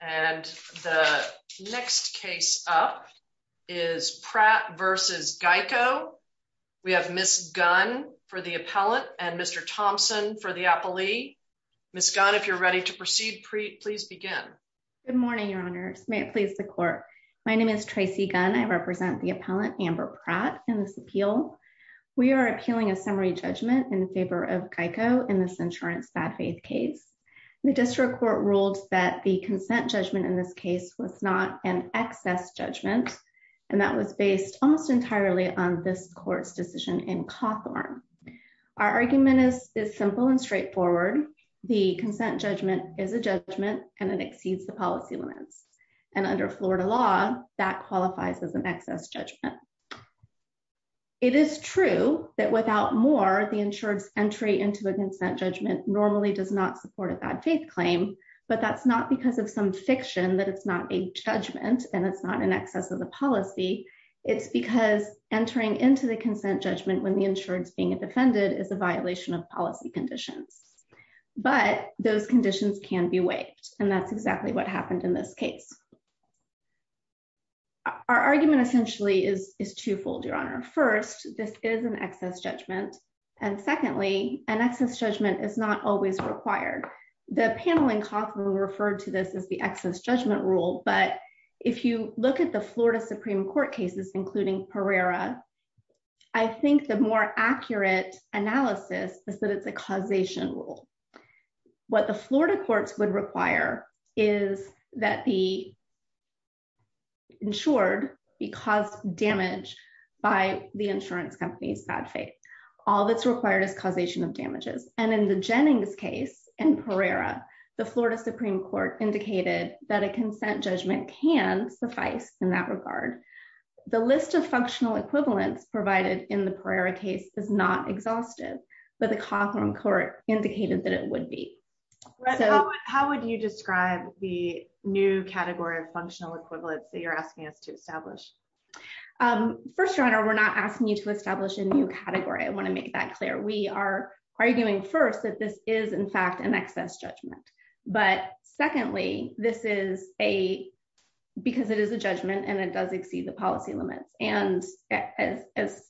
And the next case up is Pratt v. Geico. We have Ms. Gunn for the appellant and Mr. Thompson for the appellee. Ms. Gunn, if you're ready to proceed, please begin. Good morning, Your Honors. May it please the Court. My name is Tracy Gunn. I represent the appellant, Ambar Pratt, in this appeal. We are appealing a summary judgment in favor of Geico in this insurance bad faith case. The district court ruled that the consent judgment in this case was not an excess judgment and that was based almost entirely on this court's decision in Cawthorn. Our argument is simple and straightforward. The consent judgment is a judgment and it exceeds the policy limits. And under Florida law, that qualifies as an excess judgment. It is true that without more, the insurance entry into a consent judgment normally does not support a bad faith claim, but that's not because of some fiction that it's not a judgment and it's not an excess of the policy. It's because entering into the consent judgment when the insurance being defended is a violation of policy conditions. But those conditions can be waived and that's exactly what happened in this case. Our argument essentially is twofold, Your Honor. First, this is an excess judgment. And secondly, an excess judgment is not always required. The panel in Cawthorn referred to this as the excess judgment rule. But if you look at the Florida Supreme Court cases, including Pereira, I think the more accurate analysis is that it's a causation rule. What the Florida courts would require is that the insured be caused damage by the insurance company's bad faith. All that's required is causation of damages. And in the Jennings case and Pereira, the Florida Supreme Court indicated that a consent judgment can suffice in that regard. The list of functional equivalents provided in the Pereira case is not exhaustive, but the Cawthorn court indicated that it would be. How would you describe the new category of functional equivalents that you're asking us to establish? Um, first, Your Honor, we're not asking you to establish a new category. I want to make that clear. We are arguing first that this is in fact an excess judgment. But secondly, this is a because it is a judgment and it does exceed the policy limits. And as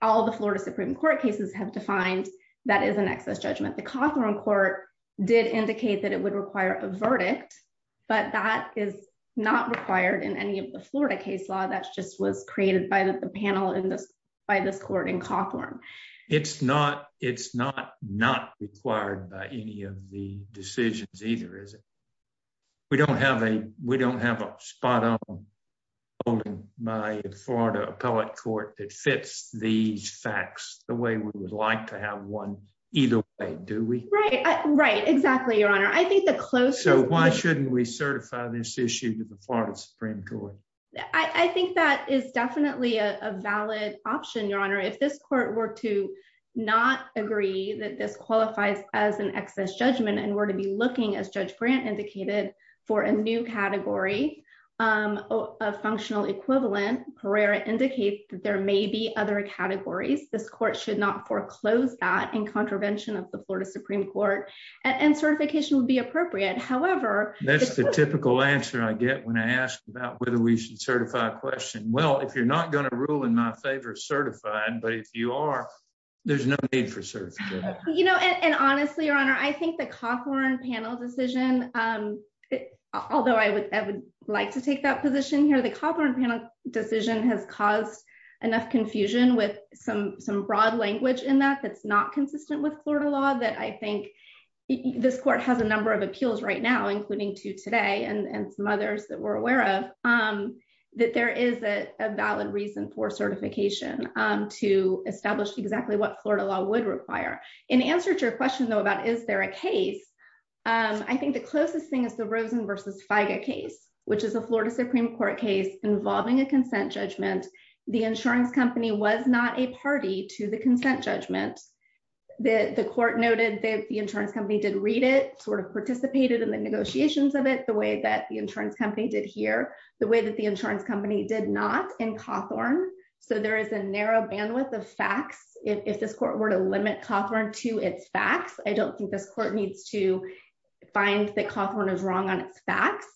all the Florida Supreme Court cases have defined, that is an excess judgment. The Cawthorn court did indicate that it would require a verdict, but that is not required in any of the Florida case law. That's just was created by the panel in this, by this court in Cawthorn. It's not, it's not not required by any of the decisions either, is it? We don't have a, we don't have a spot on my Florida appellate court that fits these facts the way we would like to have one either way, do we? Right, right, exactly, Your Honor. I think the close. So why shouldn't we certify this issue to the Florida Supreme Court? I think that is definitely a valid option, Your Honor. If this court were to not agree that this qualifies as an excess judgment and were to be looking as Judge Brandt indicated for a new category, um, a functional equivalent, Pereira indicate that there may be other categories. This court should not foreclose that in contravention of the Florida Supreme Court and certification would be appropriate. However, that's the typical answer I get when I ask about whether we should certify a question. Well, if you're not going to rule in my favor certified, but if you are, there's no need for cert. You know, and honestly, Your Honor, I think the Cawthorn panel decision, um, although I would like to take that position here, the Cawthorn panel decision has caused enough confusion with some, some broad language in that that's not consistent with Florida law that I think this court has a number of appeals right now, including two today and some others that we're aware of, um, that there is a valid reason for certification, um, to establish exactly what Florida law would require. In answer to your question, though, about is there a case? Um, I think the closest thing is the Rosen versus FIGA case, which is a Florida Supreme Court case involving a consent judgment. The insurance company was not a party to the consent judgment. The court noted that the insurance company did read it, sort of participated in the negotiations of it the way that the insurance company did here the way that the insurance company did not in Cawthorn. So there is a narrow bandwidth of facts. If this court were to limit Cawthorn to its facts, I don't think this court needs to find that Cawthorn is wrong on its facts,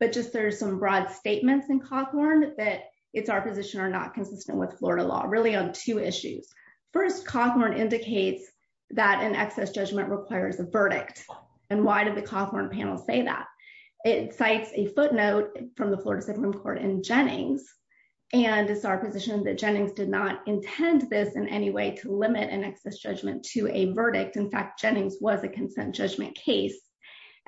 but just there's some broad statements in Cawthorn that it's our position not consistent with Florida law really on two issues. First, Cawthorn indicates that an excess judgment requires a verdict. And why did the Cawthorn panel say that? It cites a footnote from the Florida Supreme Court in Jennings. And it's our position that Jennings did not intend this in any way to limit an excess judgment to a verdict. In fact, Jennings was a consent judgment case.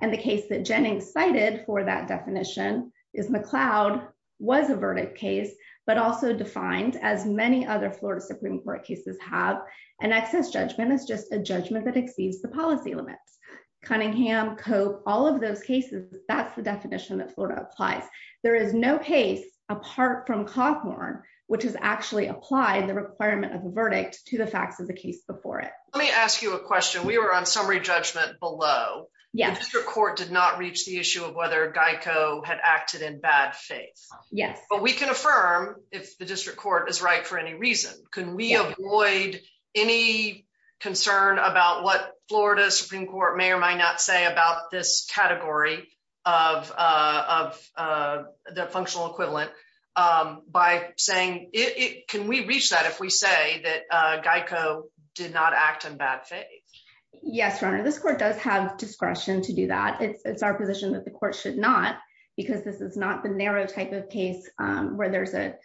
And the case that Jennings cited for that definition is McLeod was a verdict case, but also defined as many other Florida Supreme Court cases have an excess judgment is just a judgment that exceeds the policy limits. Cunningham, Cope, all of those cases, that's the definition that Florida applies. There is no case apart from Cawthorn, which has actually applied the requirement of a verdict to the facts as a case before it. Let me ask you a question. We were on summary judgment below. Yes, your court did not reach the issue of whether Geico had acted in bad faith. Yes, but we can affirm if the district court is right for any reason. Can we avoid any concern about what Florida Supreme Court may or might not say about this category of of the functional equivalent by saying it? Can we reach that if we say that Geico did not act in bad faith? Yes. This court does have discretion to do that. It's our position that the court should not, because this is not the narrow type of case where there's a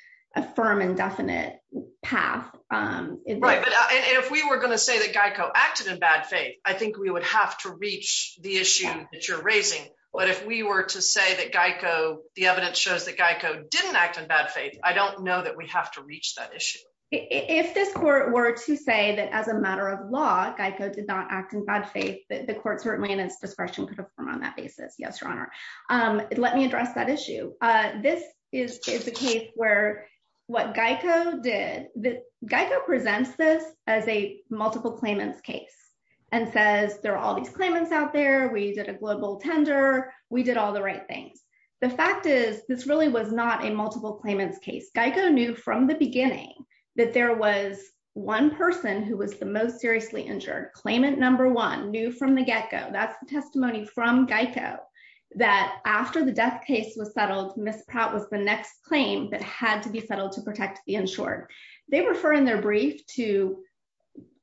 firm and definite path. Right. But if we were going to say that Geico acted in bad faith, I think we would have to reach the issue that you're raising. But if we were to say that Geico, the evidence shows that Geico didn't act in bad faith, I don't know that we have to reach that issue. If this court were to say that as a matter of law, Geico did not act in bad faith, the court certainly in its discretion could affirm on that basis. Yes, your honor. Let me address that issue. This is a case where what Geico did, Geico presents this as a multiple claimants case and says there are all these claimants out there. We did a global tender. We did all the right things. The fact is, this really was not a multiple claimants case. Geico knew from the beginning that there was one person who was the most seriously injured, claimant number one, knew from the get-go, that's the testimony from Geico, that after the death case was settled, Ms. Pratt was the next claim that had to be settled to protect the insured. They refer in their brief to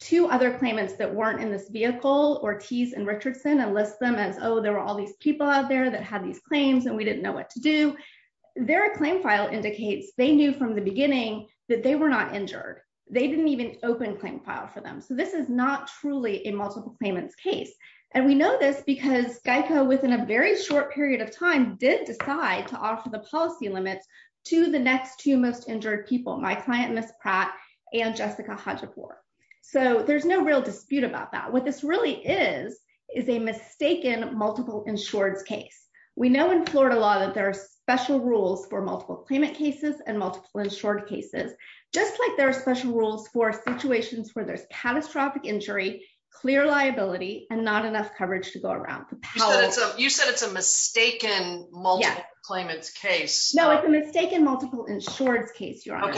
two other claimants that weren't in this vehicle, Ortiz and Richardson, and list them as, oh, there were all these people out there that had these claims and we didn't know what to do. Their claim file indicates they knew from the beginning that they were not injured. They didn't even open claim file for them. This is not truly a multiple claimants case. We know this because Geico within a very short period of time did decide to offer the policy limits to the next two most injured people, my client, Ms. Pratt and Jessica Hodgepore. There's no real dispute about that. What this really is, is a mistaken multiple insured case. We know in Florida law that there are special rules for multiple claimant cases and multiple insured cases, just like there are special rules for situations where there's catastrophic injury, clear liability, and not enough coverage to go around. You said it's a mistaken multiple claimant's case. No, it's a mistaken multiple insured's case, Your Honor.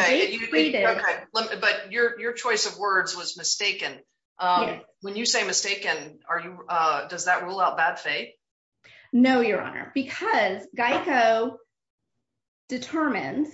But your choice of words was mistaken. When you say mistaken, does that rule out bad faith? No, Your Honor, because Geico determined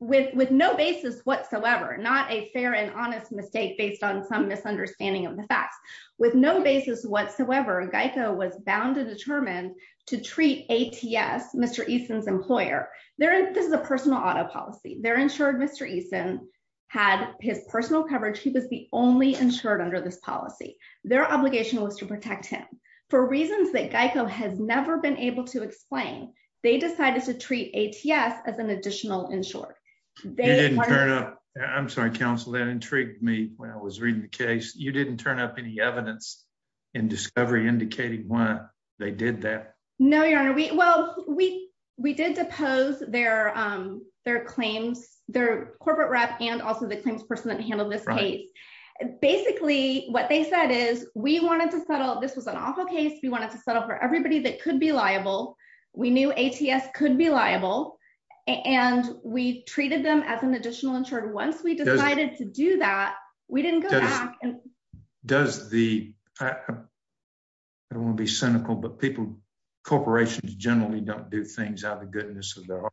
with no basis whatsoever, not a fair and honest mistake based on some misunderstanding of the facts, with no basis whatsoever, Geico was bound to determine to treat ATS, Mr. Eason's employer. This is a personal auto policy. They're insured Mr. Eason had his personal coverage. He was the only insured under this policy. Their obligation was to protect him. For reasons that Geico has never been able to explain, they decided to treat ATS as an additional insured. I'm sorry, counsel, that intrigued me. When I was reading the case, you didn't turn up any evidence in discovery indicating why they did that. No, Your Honor. Well, we did depose their claims, their corporate rep, and also the we wanted to settle. This was an awful case. We wanted to settle for everybody that could be liable. We knew ATS could be liable, and we treated them as an additional insured. Once we decided to do that, we didn't go back. I don't want to be cynical, but corporations generally don't do things out of the goodness of their heart.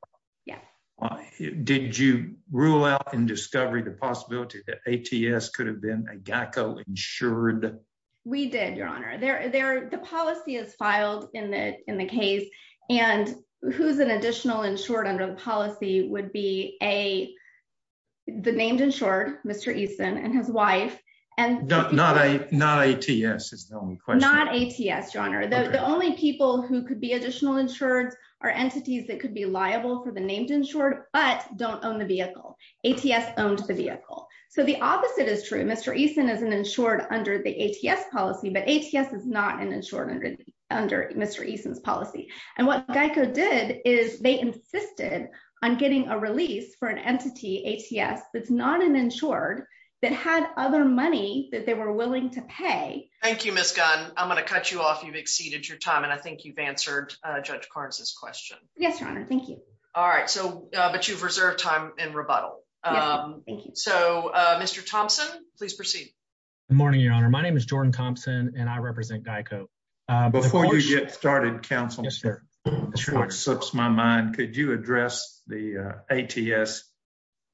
Did you rule out in discovery the possibility that We did, Your Honor. The policy is filed in the case. Who's an additional insured under the policy would be the named insured, Mr. Eason and his wife. Not ATS is the only question. Not ATS, Your Honor. The only people who could be additional insured are entities that could be liable for the named insured, but don't own the vehicle. ATS owned the vehicle. The opposite is true. Mr. Eason is an insured under the ATS policy, but ATS is not an insured under Mr. Eason's policy. What GEICO did is they insisted on getting a release for an entity, ATS, that's not an insured that had other money that they were willing to pay. Thank you, Ms. Gunn. I'm going to cut you off. You've exceeded your time, and I think you've answered Judge Carnes's question. Yes, Your Honor. All right, but you've reserved time in rebuttal. Mr. Thompson, please proceed. Good morning, Your Honor. My name is Jordan Thompson, and I represent GEICO. Before you get started, counsel, before it slips my mind, could you address the ATS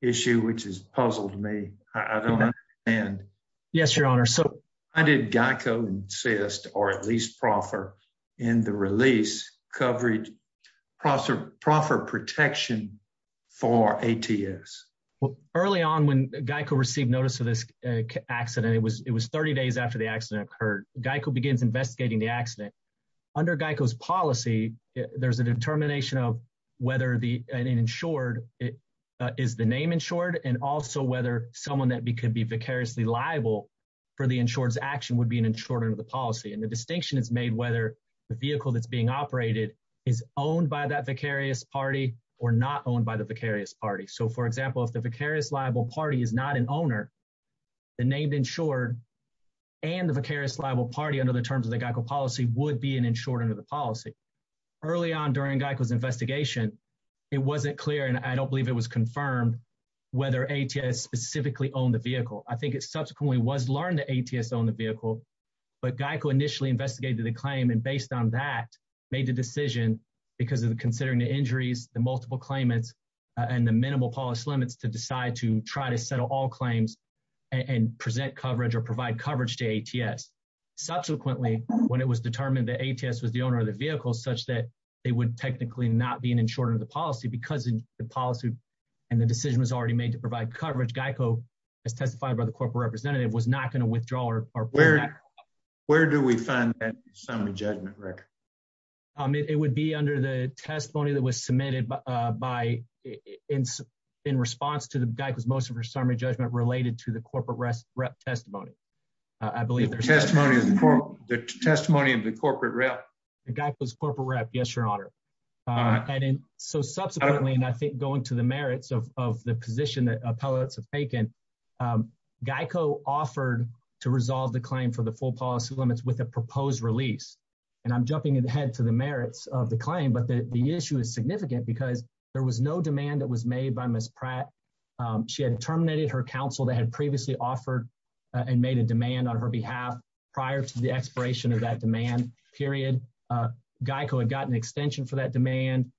issue, which has puzzled me? I don't understand. Yes, Your Honor. Why did GEICO insist, or at least proffer, in the release, proffer protection for ATS? Early on when GEICO received notice of this accident, it was 30 days after the accident occurred. GEICO begins investigating the accident. Under GEICO's policy, there's a determination of whether an insured is the name insured, and also whether someone that could be vicariously liable for the insured's action would be an insured under the policy. And the distinction is made whether the vehicle that's being operated is owned by that vicarious party or not owned by the vicarious party. So, for example, if the vicarious liable party is not an owner, the named insured and the vicarious liable party, under the terms of the GEICO policy, would be an insured under the policy. Early on during GEICO's investigation, it wasn't clear, and I don't believe it was confirmed, whether ATS specifically owned the vehicle. It was learned that ATS owned the vehicle, but GEICO initially investigated the claim, and based on that, made the decision, because of considering the injuries, the multiple claimants, and the minimal policy limits, to decide to try to settle all claims and present coverage or provide coverage to ATS. Subsequently, when it was determined that ATS was the owner of the vehicle, such that they would technically not be an insured under the policy, because of the policy and the decision was already made to provide coverage, GEICO, as testified by the corporate representative, was not going to withdraw. Where do we find that summary judgment record? It would be under the testimony that was submitted by, in response to GEICO's most of her summary judgment, related to the corporate rep testimony. I believe the testimony of the corporate rep. GEICO's corporate rep, yes, your honor. So, subsequently, and I think going to merits of the position that appellates have taken, GEICO offered to resolve the claim for the full policy limits with a proposed release. And I'm jumping ahead to the merits of the claim, but the issue is significant because there was no demand that was made by Ms. Pratt. She had terminated her counsel that had previously offered and made a demand on her behalf prior to the expiration of that demand period. GEICO had gotten extension for that demand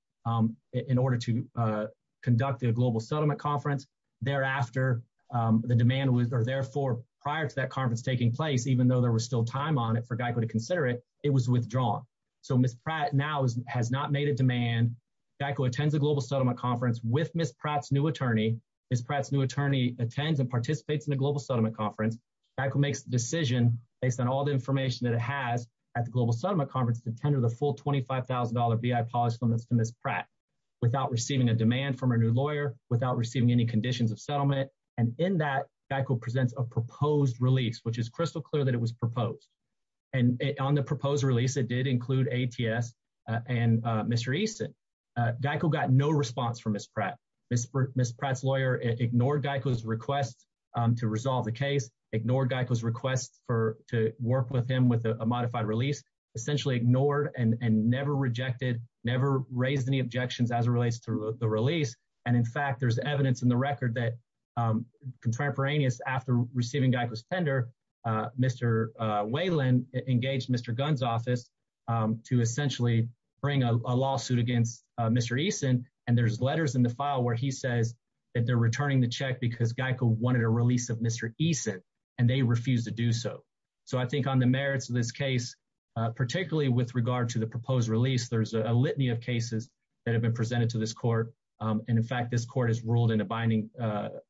in order to conduct the Global Settlement Conference. Thereafter, the demand was, or therefore, prior to that conference taking place, even though there was still time on it for GEICO to consider it, it was withdrawn. So, Ms. Pratt now has not made a demand. GEICO attends the Global Settlement Conference with Ms. Pratt's new attorney. Ms. Pratt's new attorney attends and participates in the Global Settlement Conference. GEICO makes the decision, based on all the information that it has at the Global Settlement Conference, to tender the full $25,000 BI policy limits to Ms. Pratt without receiving a demand from her new lawyer, without receiving any conditions of settlement. And in that, GEICO presents a proposed release, which is crystal clear that it was proposed. And on the proposed release, it did include ATS and Mr. Easton. GEICO got no response from Ms. Pratt. Ms. Pratt's lawyer ignored GEICO's request to resolve the case, ignored GEICO's request for to work with him with a modified release, essentially ignored and never rejected, never raised any objections as it relates to the release. And in fact, there's evidence in the record that contemporaneous after receiving GEICO's tender, Mr. Whalen engaged Mr. Gunn's office to essentially bring a lawsuit against Mr. Easton. And there's letters in the file where he says that they're returning the check because GEICO wanted a release of Mr. Easton, and they refused to do so. So, I think on the merits of this case, particularly with regard to the proposed release, there's a litany of cases that have been presented to this court. And in fact, this court has ruled in a binding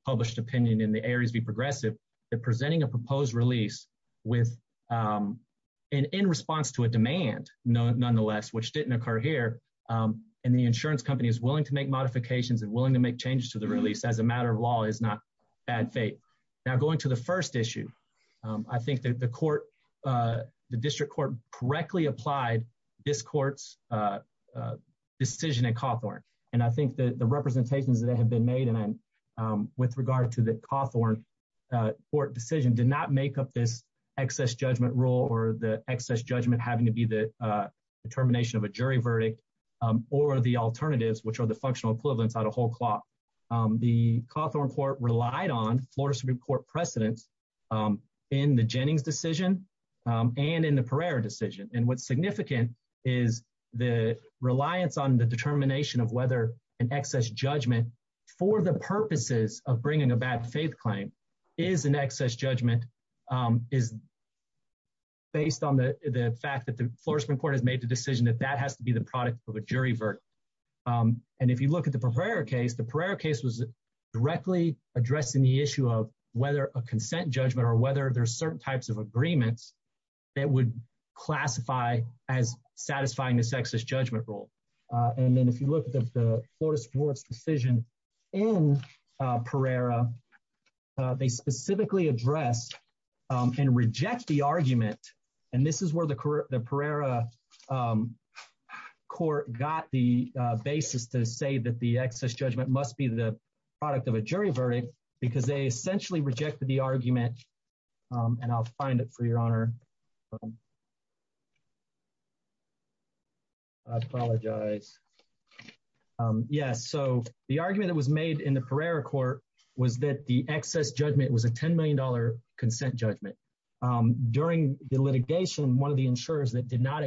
published opinion in the Ares v. Progressive that presenting a proposed release in response to a demand, nonetheless, which didn't occur here, and the insurance company is willing to make modifications and willing to make changes to the release as a matter of law, is not bad fate. Now, going to the first issue, I think that the district court correctly applied this court's decision at Cawthorn. And I think that the representations that have been made with regard to the Cawthorn court decision did not make up this excess judgment rule or the excess judgment having to be the determination of a jury verdict or the alternatives, which are the functional equivalents out of whole cloth. The Cawthorn court relied on Florida Supreme Court precedence in the Jennings decision and in the Pereira decision. And what's significant is the reliance on the determination of whether an excess judgment for the purposes of bringing a bad faith claim is an excess judgment is based on the fact that the Florida Supreme Court has made the decision that that has to be the product of a jury verdict. And if you look at the Pereira case, the Pereira case was directly addressing the issue of whether a consent judgment or whether there's certain types of agreements that would classify as satisfying this excess judgment rule. And then if you look at the Florida Supreme Court's decision in Pereira, they specifically address and reject the argument. And this is where the Pereira court got the basis to say that the excess judgment must be the product of a jury verdict because they essentially rejected the argument. And I'll find it for your honor. I apologize. Yes. So the argument that was made in the Pereira court was that the excess judgment was a 10 million dollar consent judgment. During the litigation, one of the insurers that did not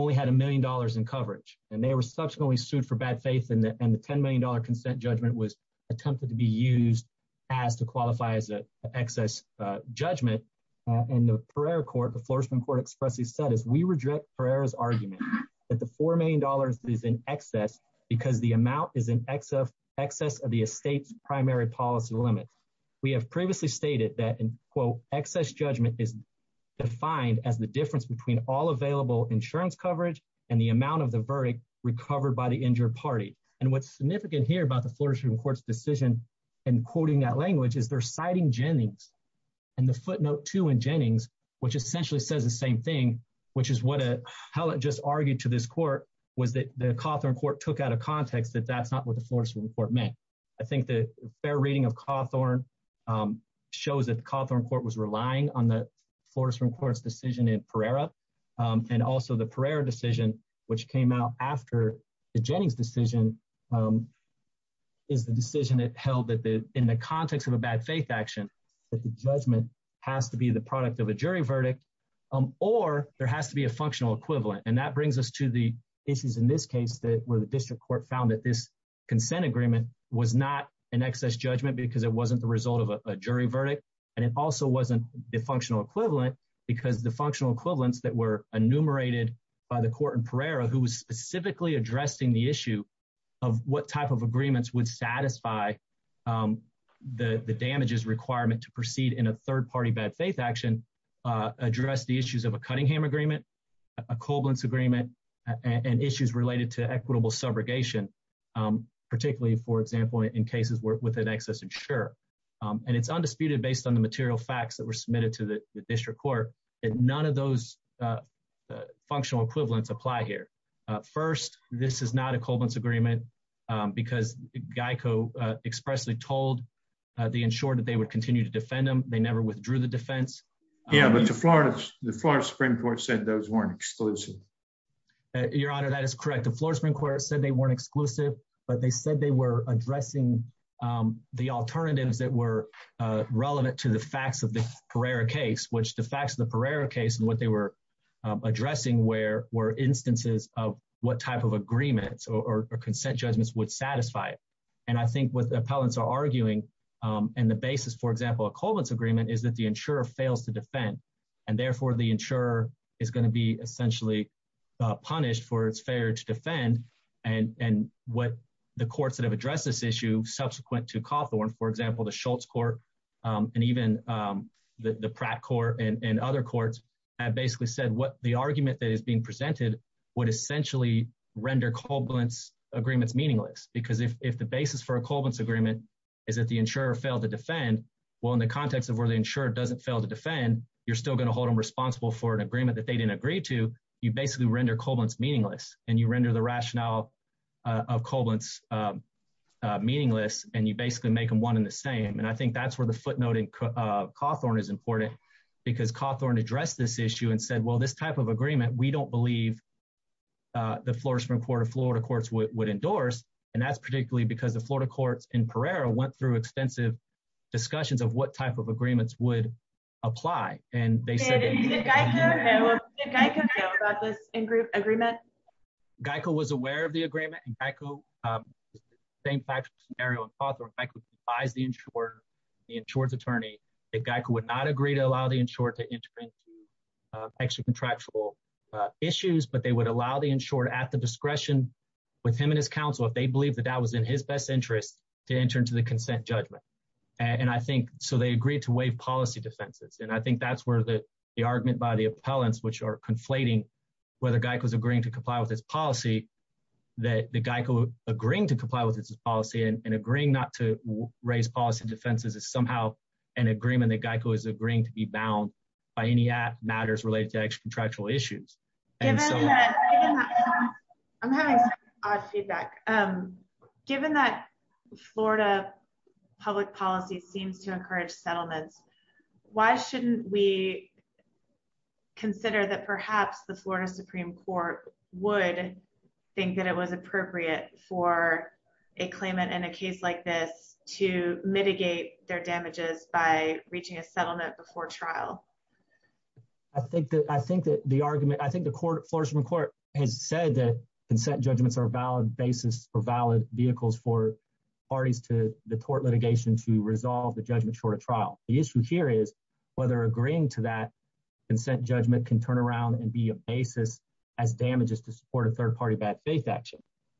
only had a million dollars in coverage and they were subsequently sued for bad faith and the 10 million dollar consent judgment was attempted to be used as to qualify as an excess judgment. And the Pereira court, the Florida Supreme Court expressly said, as we reject Pereira's argument that the four million dollars is in excess because the amount is in excess of the estate's primary policy limit. We have previously stated that in quote, excess judgment is defined as the difference between all available insurance coverage and the amount of the verdict recovered by the injured party. And what's significant here about the Florida Supreme Court's decision and quoting that language is they're citing Jennings and the footnote two in Jennings, which essentially says the same thing, which is what a hell it just argued to this court was that the Cawthorn court took out of context that that's not what the Florida Supreme Court meant. I think the fair reading of Cawthorn shows that the Cawthorn court was relying on the Florida Supreme Court's decision in Pereira and also the Pereira decision, which came out after the Jennings decision is the decision that held that in the context of a bad faith action, that the judgment has to be the product of a jury verdict or there has to be a functional equivalent. And that brings us to the issues in this case that where the district court found that this consent agreement was not an excess judgment because it wasn't the result of a jury verdict. And it also wasn't the functional equivalent because the functional equivalents that were enumerated by the court in Pereira, who was specifically addressing the issue of what type of agreements would satisfy the damages requirement to proceed in a third party bad faith action, address the issues of a Cunningham agreement, a Koblenz agreement and issues related to equitable subrogation, particularly, for example, in cases where with an excess insurer. And it's undisputed based on the material facts that were submitted to the district court. And none of those functional equivalents apply here. First, this is not a Koblenz agreement, because Geico expressly told the insurer that they would continue to defend them. They never withdrew the defense. Yeah, but the Florida Supreme Court said those weren't exclusive. Your Honor, that is correct. The Florida Supreme Court said they weren't exclusive, but they said they were addressing the alternatives that were relevant to the facts of the Pereira case, which the facts of the Pereira case and what they were addressing were instances of what type of agreements or consent judgments would satisfy. And I think what the appellants are arguing and the basis, for example, a Koblenz agreement is the insurer fails to defend. And therefore, the insurer is going to be essentially punished for its failure to defend. And what the courts that have addressed this issue subsequent to Cawthorn, for example, the Schultz court, and even the Pratt court and other courts have basically said what the argument that is being presented would essentially render Koblenz agreements meaningless. Because if the basis for a Koblenz agreement is that the insurer failed to defend, well, in the context of where the insurer doesn't fail to defend, you're still going to hold them responsible for an agreement that they didn't agree to. You basically render Koblenz meaningless and you render the rationale of Koblenz meaningless and you basically make them one and the same. And I think that's where the footnote in Cawthorn is important because Cawthorn addressed this issue and said, well, this type of agreement, we don't believe the Florida Supreme Court or Florida courts would endorse. And that's particularly because Florida courts in Pereira went through extensive discussions of what type of agreements would apply. And they said- Did Geico know about this agreement? Geico was aware of the agreement and Geico, same factual scenario in Cawthorn, Geico advised the insurer, the insurer's attorney, that Geico would not agree to allow the insurer to enter into extra contractual issues, but they would allow the insurer at the discretion with him and his counsel, if they believed that that was in his best interest, to enter into the consent judgment. So they agreed to waive policy defenses. And I think that's where the argument by the appellants, which are conflating whether Geico is agreeing to comply with this policy, that Geico agreeing to comply with this policy and agreeing not to raise policy defenses is somehow an agreement that Geico is agreeing to be bound by any matters related to extra contractual issues. Given that- I'm having some odd feedback. Given that Florida public policy seems to encourage settlements, why shouldn't we consider that perhaps the Florida Supreme Court would think that it was appropriate for a claimant in a case like this to mitigate their damages by the court? Florida Supreme Court has said that consent judgments are a valid basis or valid vehicles for parties to the tort litigation to resolve the judgment short of trial. The issue here is whether agreeing to that consent judgment can turn around and be a basis as damages to support a third party bad faith action.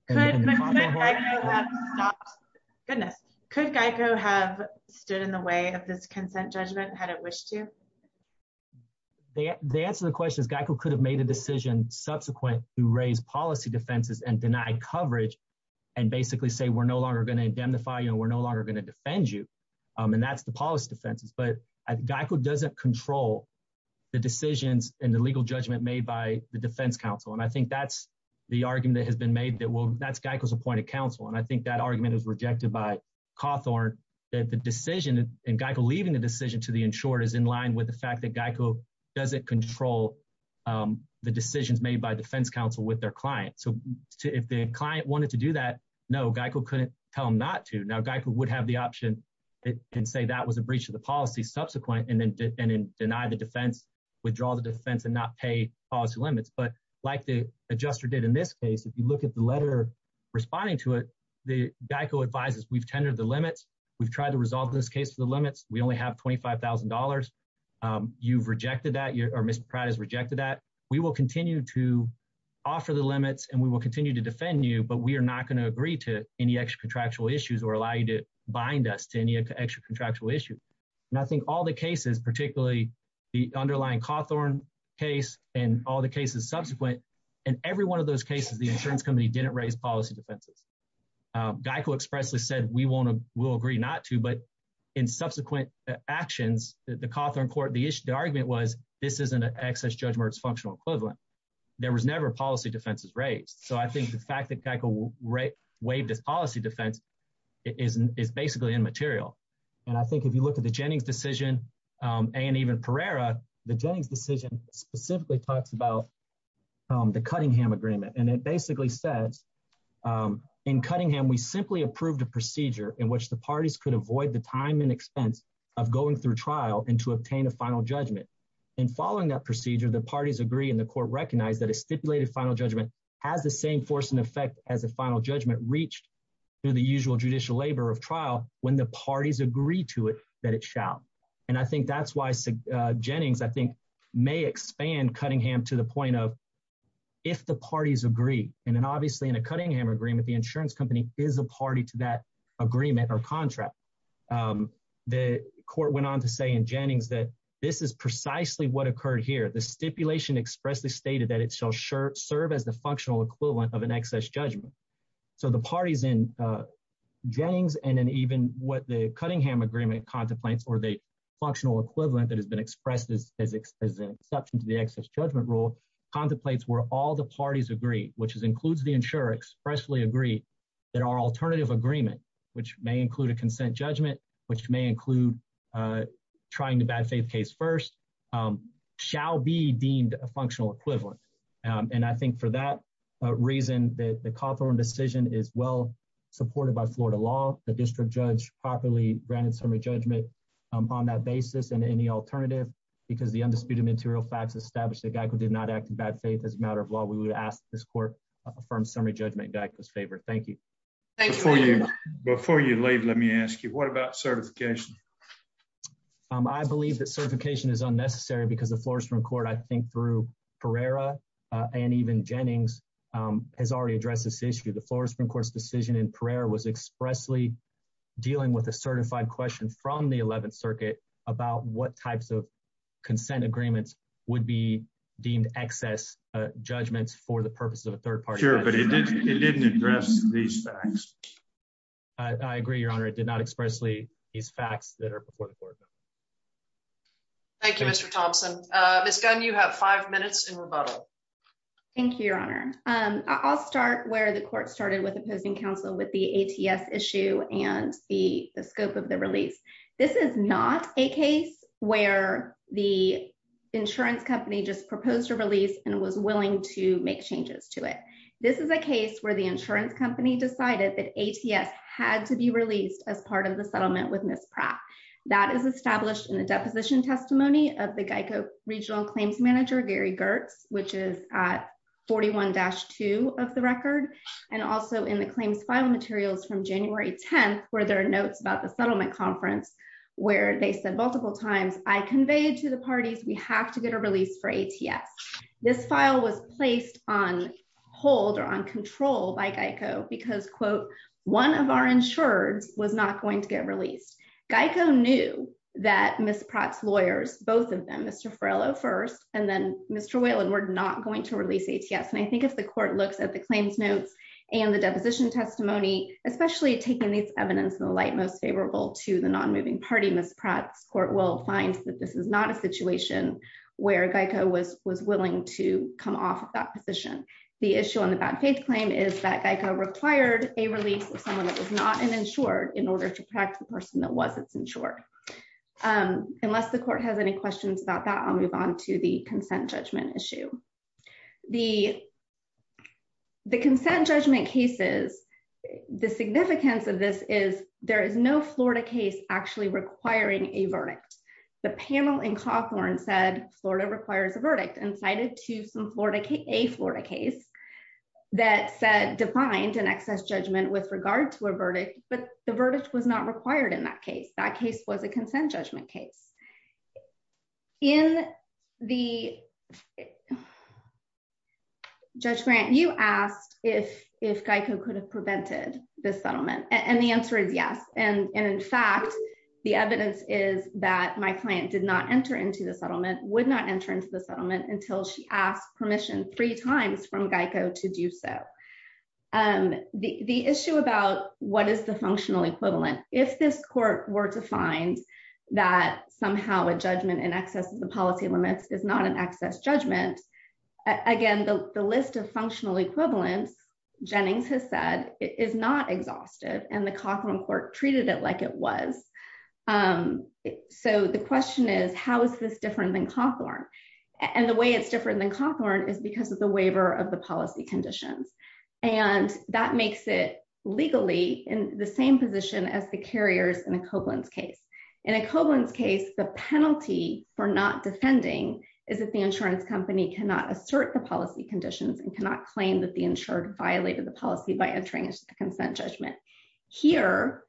Could Geico have stopped? Goodness. Could Geico have stood in the way of this consent judgment had it wished to? The answer to the question is Geico could have made a decision subsequent to raise policy defenses and deny coverage and basically say, we're no longer going to indemnify you and we're no longer going to defend you. And that's the policy defenses. But Geico doesn't control the decisions and the legal judgment made by the defense counsel. And I think that's the argument that has been made that, well, that's Geico's appointed counsel. And I think that argument is rejected by Cawthorn that the fact that Geico doesn't control the decisions made by defense counsel with their client. So if the client wanted to do that, no, Geico couldn't tell him not to. Now Geico would have the option and say that was a breach of the policy subsequent and then deny the defense, withdraw the defense and not pay policy limits. But like the adjuster did in this case, if you look at the letter responding to it, Geico advises, we've tendered the limits. We've tried to resolve this case for the limits. We only have $25,000. You've rejected that or Mr. Pratt has rejected that. We will continue to offer the limits and we will continue to defend you, but we are not going to agree to any extra contractual issues or allow you to bind us to any extra contractual issue. And I think all the cases, particularly the underlying Cawthorn case and all the cases subsequent and every one of those cases, the insurance company didn't raise policy defenses. Geico expressly said, we will agree not to, but in subsequent actions, the Cawthorn court, the issue, the argument was this isn't an excess judgment or it's functional equivalent. There was never policy defenses raised. So I think the fact that Geico waived this policy defense is basically immaterial. And I think if you look at the Jennings decision and even Pereira, the Jennings decision specifically talks about the Cunningham agreement. And it basically says in Cunningham, we simply approved a procedure in which the parties could avoid the time and expense of going through trial and to obtain a final judgment. And following that procedure, the parties agree in the court recognized that a stipulated final judgment has the same force and effect as a final judgment reached through the usual judicial labor of trial when the parties agree to it, that it shall. And I think that's Jennings, I think may expand Cunningham to the point of if the parties agree. And then obviously in a Cunningham agreement, the insurance company is a party to that agreement or contract. The court went on to say in Jennings that this is precisely what occurred here. The stipulation expressly stated that it shall serve as the functional equivalent of an excess judgment. So the parties in Jennings and then even what the Cunningham agreement contemplates or the functional equivalent that has been expressed as an exception to the excess judgment rule contemplates where all the parties agree, which includes the insurer, expressly agree that our alternative agreement, which may include a consent judgment, which may include trying to bad faith case first, shall be deemed a functional equivalent. And I think for that reason, the Cawthorn decision is well supported by Florida law. The district judge properly granted summary judgment on that basis and any alternative because the undisputed material facts established that Geico did not act in bad faith as a matter of law, we would ask this court affirmed summary judgment Geico's favor. Thank you. Before you leave, let me ask you, what about certification? I believe that certification is unnecessary because the Florida Supreme Court, I think through Pereira and even Jennings has already addressed this issue. The Florida Supreme Court's decision in Pereira was expressly dealing with a certified question from the 11th Circuit about what types of consent agreements would be deemed excess judgments for the purposes of a third party. But it didn't address these facts. I agree, Your Honor. It did not expressly these facts that are before the court. Thank you, Mr. Thompson. Miss Gunn, you have five minutes in with the ATS issue and the scope of the release. This is not a case where the insurance company just proposed a release and was willing to make changes to it. This is a case where the insurance company decided that ATS had to be released as part of the settlement with Miss Pratt. That is established in the deposition testimony of the Geico regional claims manager, Gary Gertz, which is at 41-2 of the record. And also in the claims file materials from January 10th, where there are notes about the settlement conference, where they said multiple times, I conveyed to the parties, we have to get a release for ATS. This file was placed on hold or on control by Geico because, quote, one of our insured was not going to get released. Geico knew that Miss Pratt's lawyers, both of them, Mr. Farrello first, and then Mr. Whalen, were not going to release ATS. And I think if the court looks at the claims notes and the deposition testimony, especially taking these evidence in the light most favorable to the non-moving party, Miss Pratt's court will find that this is not a situation where Geico was willing to come off of that position. The issue on the bad faith claim is that Geico required a release of someone that was not an insured in order to protect the person that was its insured. And unless the court has any questions about that, I'll move on to the consent judgment issue. The consent judgment cases, the significance of this is there is no Florida case actually requiring a verdict. The panel in Cawthorn said Florida requires a verdict and cited to some Florida case, a Florida case, that said defined an excess judgment with regard to a consent judgment case. In the... Judge Grant, you asked if Geico could have prevented the settlement. And the answer is yes. And in fact, the evidence is that my client did not enter into the settlement, would not enter into the settlement until she asked permission three times from Geico to do so. The issue about what is the functional equivalent, if this court were to find that somehow a judgment in excess of the policy limits is not an excess judgment, again, the list of functional equivalents, Jennings has said, is not exhaustive and the Cawthorn court treated it like it was. So the question is, how is this different than Cawthorn? And the way it's different than Cawthorn is because of the waiver of the policy conditions. And that makes it legally in the same position as the carriers in a Koblenz case. In a Koblenz case, the penalty for not defending is that the insurance company cannot assert the policy conditions and cannot claim that the insured violated the policy by entering a consent judgment. Here,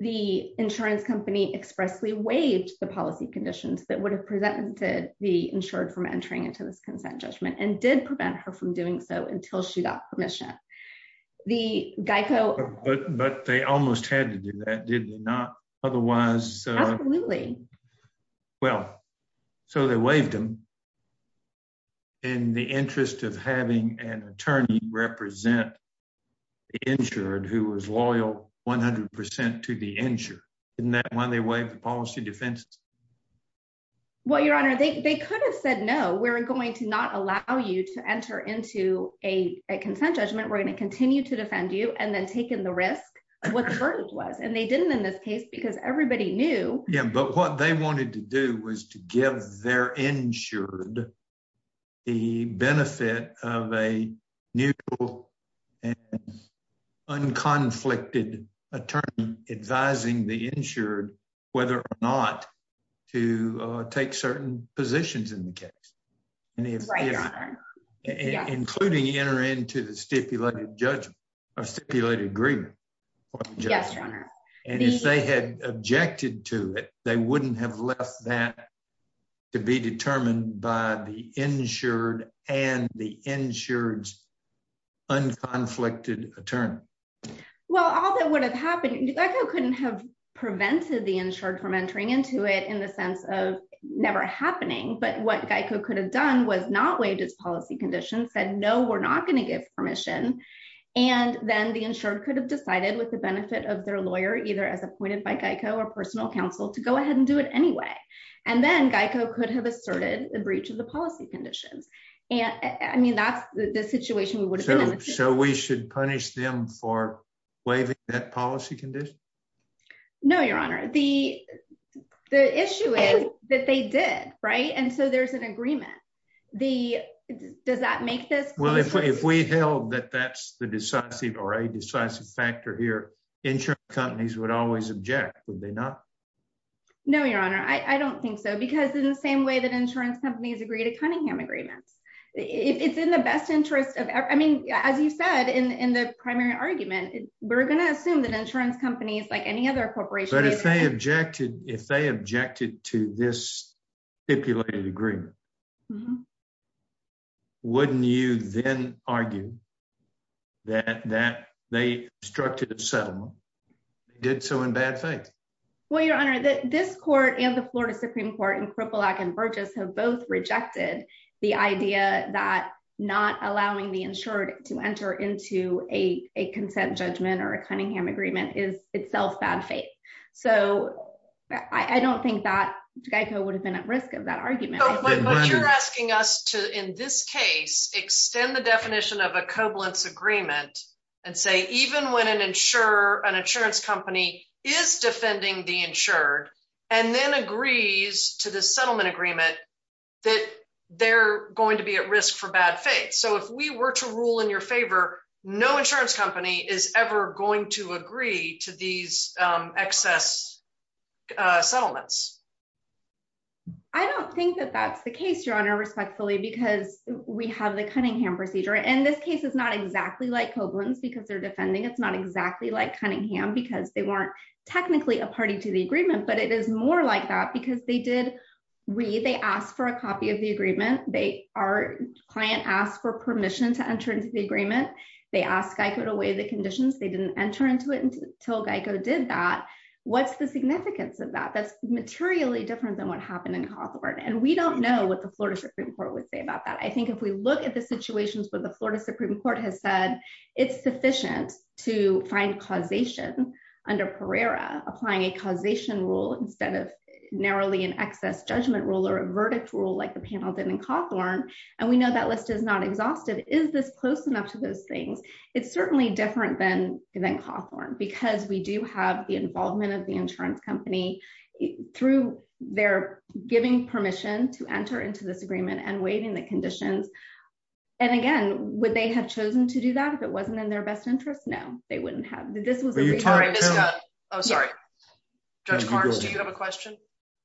the insurance company expressly waived the policy conditions that would have prevented the insured from entering into this consent judgment and did prevent her from doing so until she got permission. The Geico... But they almost had to do that, did they not? Otherwise... Absolutely. Well, so they waived them in the interest of having an attorney represent the insured who was loyal 100% to the insured. Isn't that why they waived the policy defenses? Well, Your Honor, they could have said, no, we're going to not allow you to enter into a consent judgment. We're going to continue to defend you and then take in the risk of what the burden was. And they didn't in this case because everybody knew... Yeah, but what they wanted to do was to give their insured the benefit of a neutral and to take certain positions in the case. Including enter into the stipulated judgment or stipulated agreement. Yes, Your Honor. And if they had objected to it, they wouldn't have left that to be determined by the insured and the insured's unconflicted attorney. Well, all that would have happened... Geico couldn't have prevented the insured from entering into it in the sense of never happening. But what Geico could have done was not waived its policy condition, said, no, we're not going to give permission. And then the insured could have decided with the benefit of their lawyer, either as appointed by Geico or personal counsel to go ahead and do it anyway. And then Geico could have asserted the breach of the policy conditions. I mean, that's the situation we would have been in. So we should punish them for waiving that policy condition? No, Your Honor. The issue is that they did, right? And so there's an agreement. Does that make this... Well, if we held that that's the decisive or a decisive factor here, insured companies would always object, would they not? No, Your Honor. I don't think so. Because in the same way that insurance companies agree to Cunningham agreements, it's in the best interest of... I mean, as you said, in the primary argument, we're going to assume that insurance companies like any other corporation... But if they objected to this stipulated agreement, wouldn't you then argue that they obstructed the settlement? They did so in bad faith? Well, Your Honor, this court and the Florida Supreme Court and Kripalak and Burgess have rejected the idea that not allowing the insured to enter into a consent judgment or a Cunningham agreement is itself bad faith. So I don't think that Geico would have been at risk of that argument. But you're asking us to, in this case, extend the definition of a covalence agreement and say, even when an insurance company is defending the insured, and then agrees to the settlement agreement, that they're going to be at risk for bad faith. So if we were to rule in your favor, no insurance company is ever going to agree to these excess settlements. I don't think that that's the case, Your Honor, respectfully, because we have the Cunningham procedure. And this case is not exactly like covalence because they're defending. It's not exactly like Cunningham because they weren't technically a party to the agreement. But it is more like that because they did read, they asked for a copy of the agreement. Our client asked for permission to enter into the agreement. They asked Geico to weigh the conditions. They didn't enter into it until Geico did that. What's the significance of that? That's materially different than what happened in Hawthorne. And we don't know what the Florida Supreme Court would say about that. I think if we look at the situations where the Florida Supreme Court has said it's sufficient to find causation under Pereira, applying a causation rule instead of narrowly an excess judgment rule or a verdict rule like the panel did in Hawthorne, and we know that list is not exhaustive. Is this close enough to those things? It's certainly different than Hawthorne because we do have the involvement of the insurance company through their giving permission to enter into this agreement and weighting the conditions. And again, would they have chosen to do that if it wasn't in their best interest? No, they wouldn't have. This was. Oh, sorry. Do you have a question?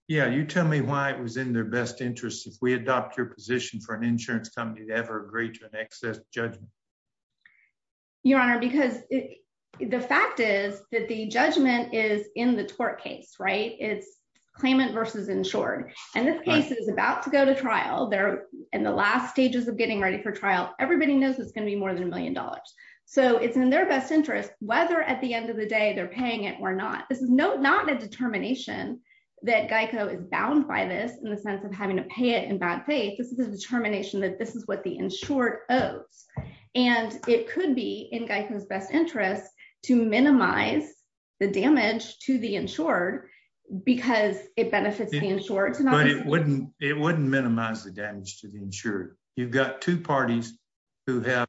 Yeah. You tell me why it was in their best interest if we adopt your position for an insurance company to ever agree to an excess judgment. Your Honor, because the fact is that the judgment is in the tort case, right? It's versus insured. And this case is about to go to trial. They're in the last stages of getting ready for trial. Everybody knows it's going to be more than a million dollars. So it's in their best interest whether at the end of the day they're paying it or not. This is not a determination that Geico is bound by this in the sense of having to pay it in bad faith. This is a determination that this is what the insured owes. And it could be in Geico's best interest to because it benefits the insured. But it wouldn't it wouldn't minimize the damage to the insured. You've got two parties who have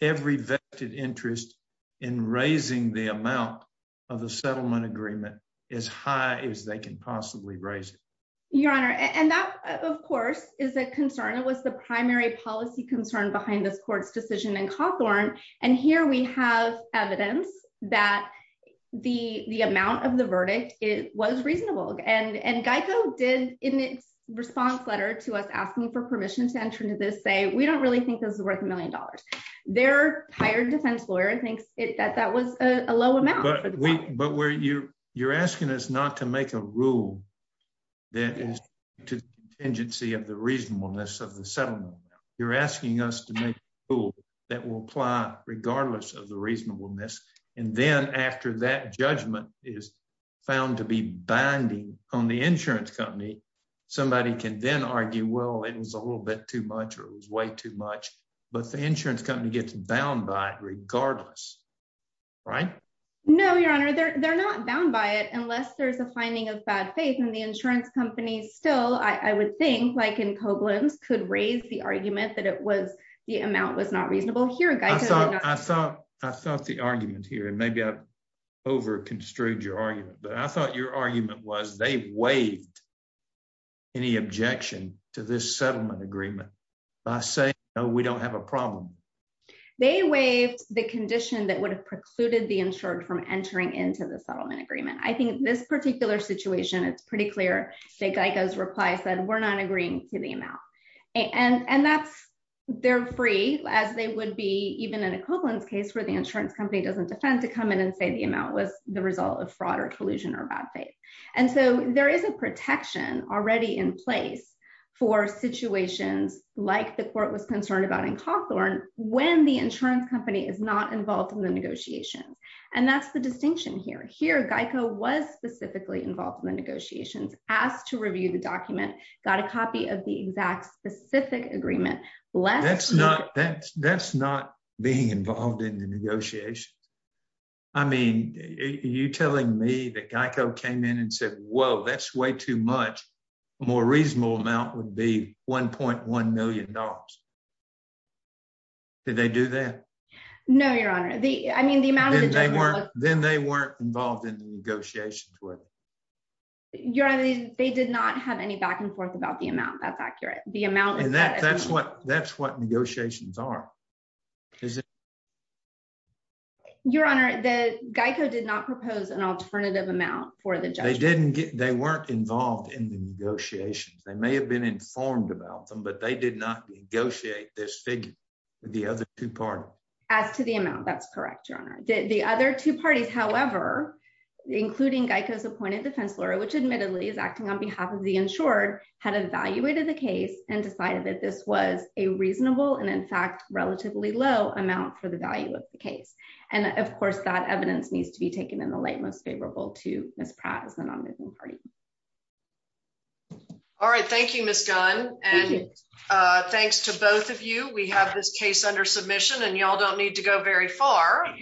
every vested interest in raising the amount of the settlement agreement as high as they can possibly raise it. Your Honor, and that, of course, is a concern. It was the primary policy concern behind this court's decision in Cawthorn. And here we have evidence that the amount of the verdict was reasonable. And Geico did in its response letter to us asking for permission to enter into this say, we don't really think this is worth a million dollars. Their hired defense lawyer thinks that that was a low amount. But you're asking us not to make a rule that is contingency of the reasonableness of the settlement. You're asking us to make a rule that will apply regardless of the reasonableness. And then after that judgment is found to be binding on the insurance company, somebody can then argue, well, it was a little bit too much or it was way too much. But the insurance company gets bound by it regardless. Right? No, Your Honor, they're not bound by it unless there's a finding of bad faith in the insurance companies. Still, I would think like in Koblenz could raise the argument that it the amount was not reasonable here. I thought the argument here, and maybe I've over construed your argument, but I thought your argument was they waived any objection to this settlement agreement by saying, no, we don't have a problem. They waived the condition that would have precluded the insured from entering into the settlement agreement. I think this particular situation, it's pretty clear that Geico's reply said, we're not agreeing to the amount. And that's, they're free as they would be even in a Koblenz case where the insurance company doesn't defend to come in and say the amount was the result of fraud or collusion or bad faith. And so there is a protection already in place for situations like the court was concerned about in Cawthorn when the insurance company is not involved in the negotiations. And that's the distinction here. Here, Geico was specifically involved in the negotiations, asked to review the document, got a copy of the exact specific agreement. That's not being involved in the negotiations. I mean, are you telling me that Geico came in and said, whoa, that's way too much, a more reasonable amount would be $1.1 million. Did they do that? No, your honor. I mean, then they weren't involved in the negotiations. They did not have any back and forth about the amount. That's accurate. That's what negotiations are. Your honor, Geico did not propose an alternative amount for the judge. They weren't involved in the negotiations. They may have been informed about them, they did not negotiate this figure with the other two parties. As to the amount, that's correct, your honor. The other two parties, however, including Geico's appointed defense lawyer, which admittedly is acting on behalf of the insured, had evaluated the case and decided that this was a reasonable and in fact, relatively low amount for the value of the case. And of course, that evidence needs to be taken in the light, most favorable to Ms. Pratt as the nominating party. All right. Thank you, Ms. Gunn. And thanks to both of you, we have this case under submission and y'all don't need to go very far.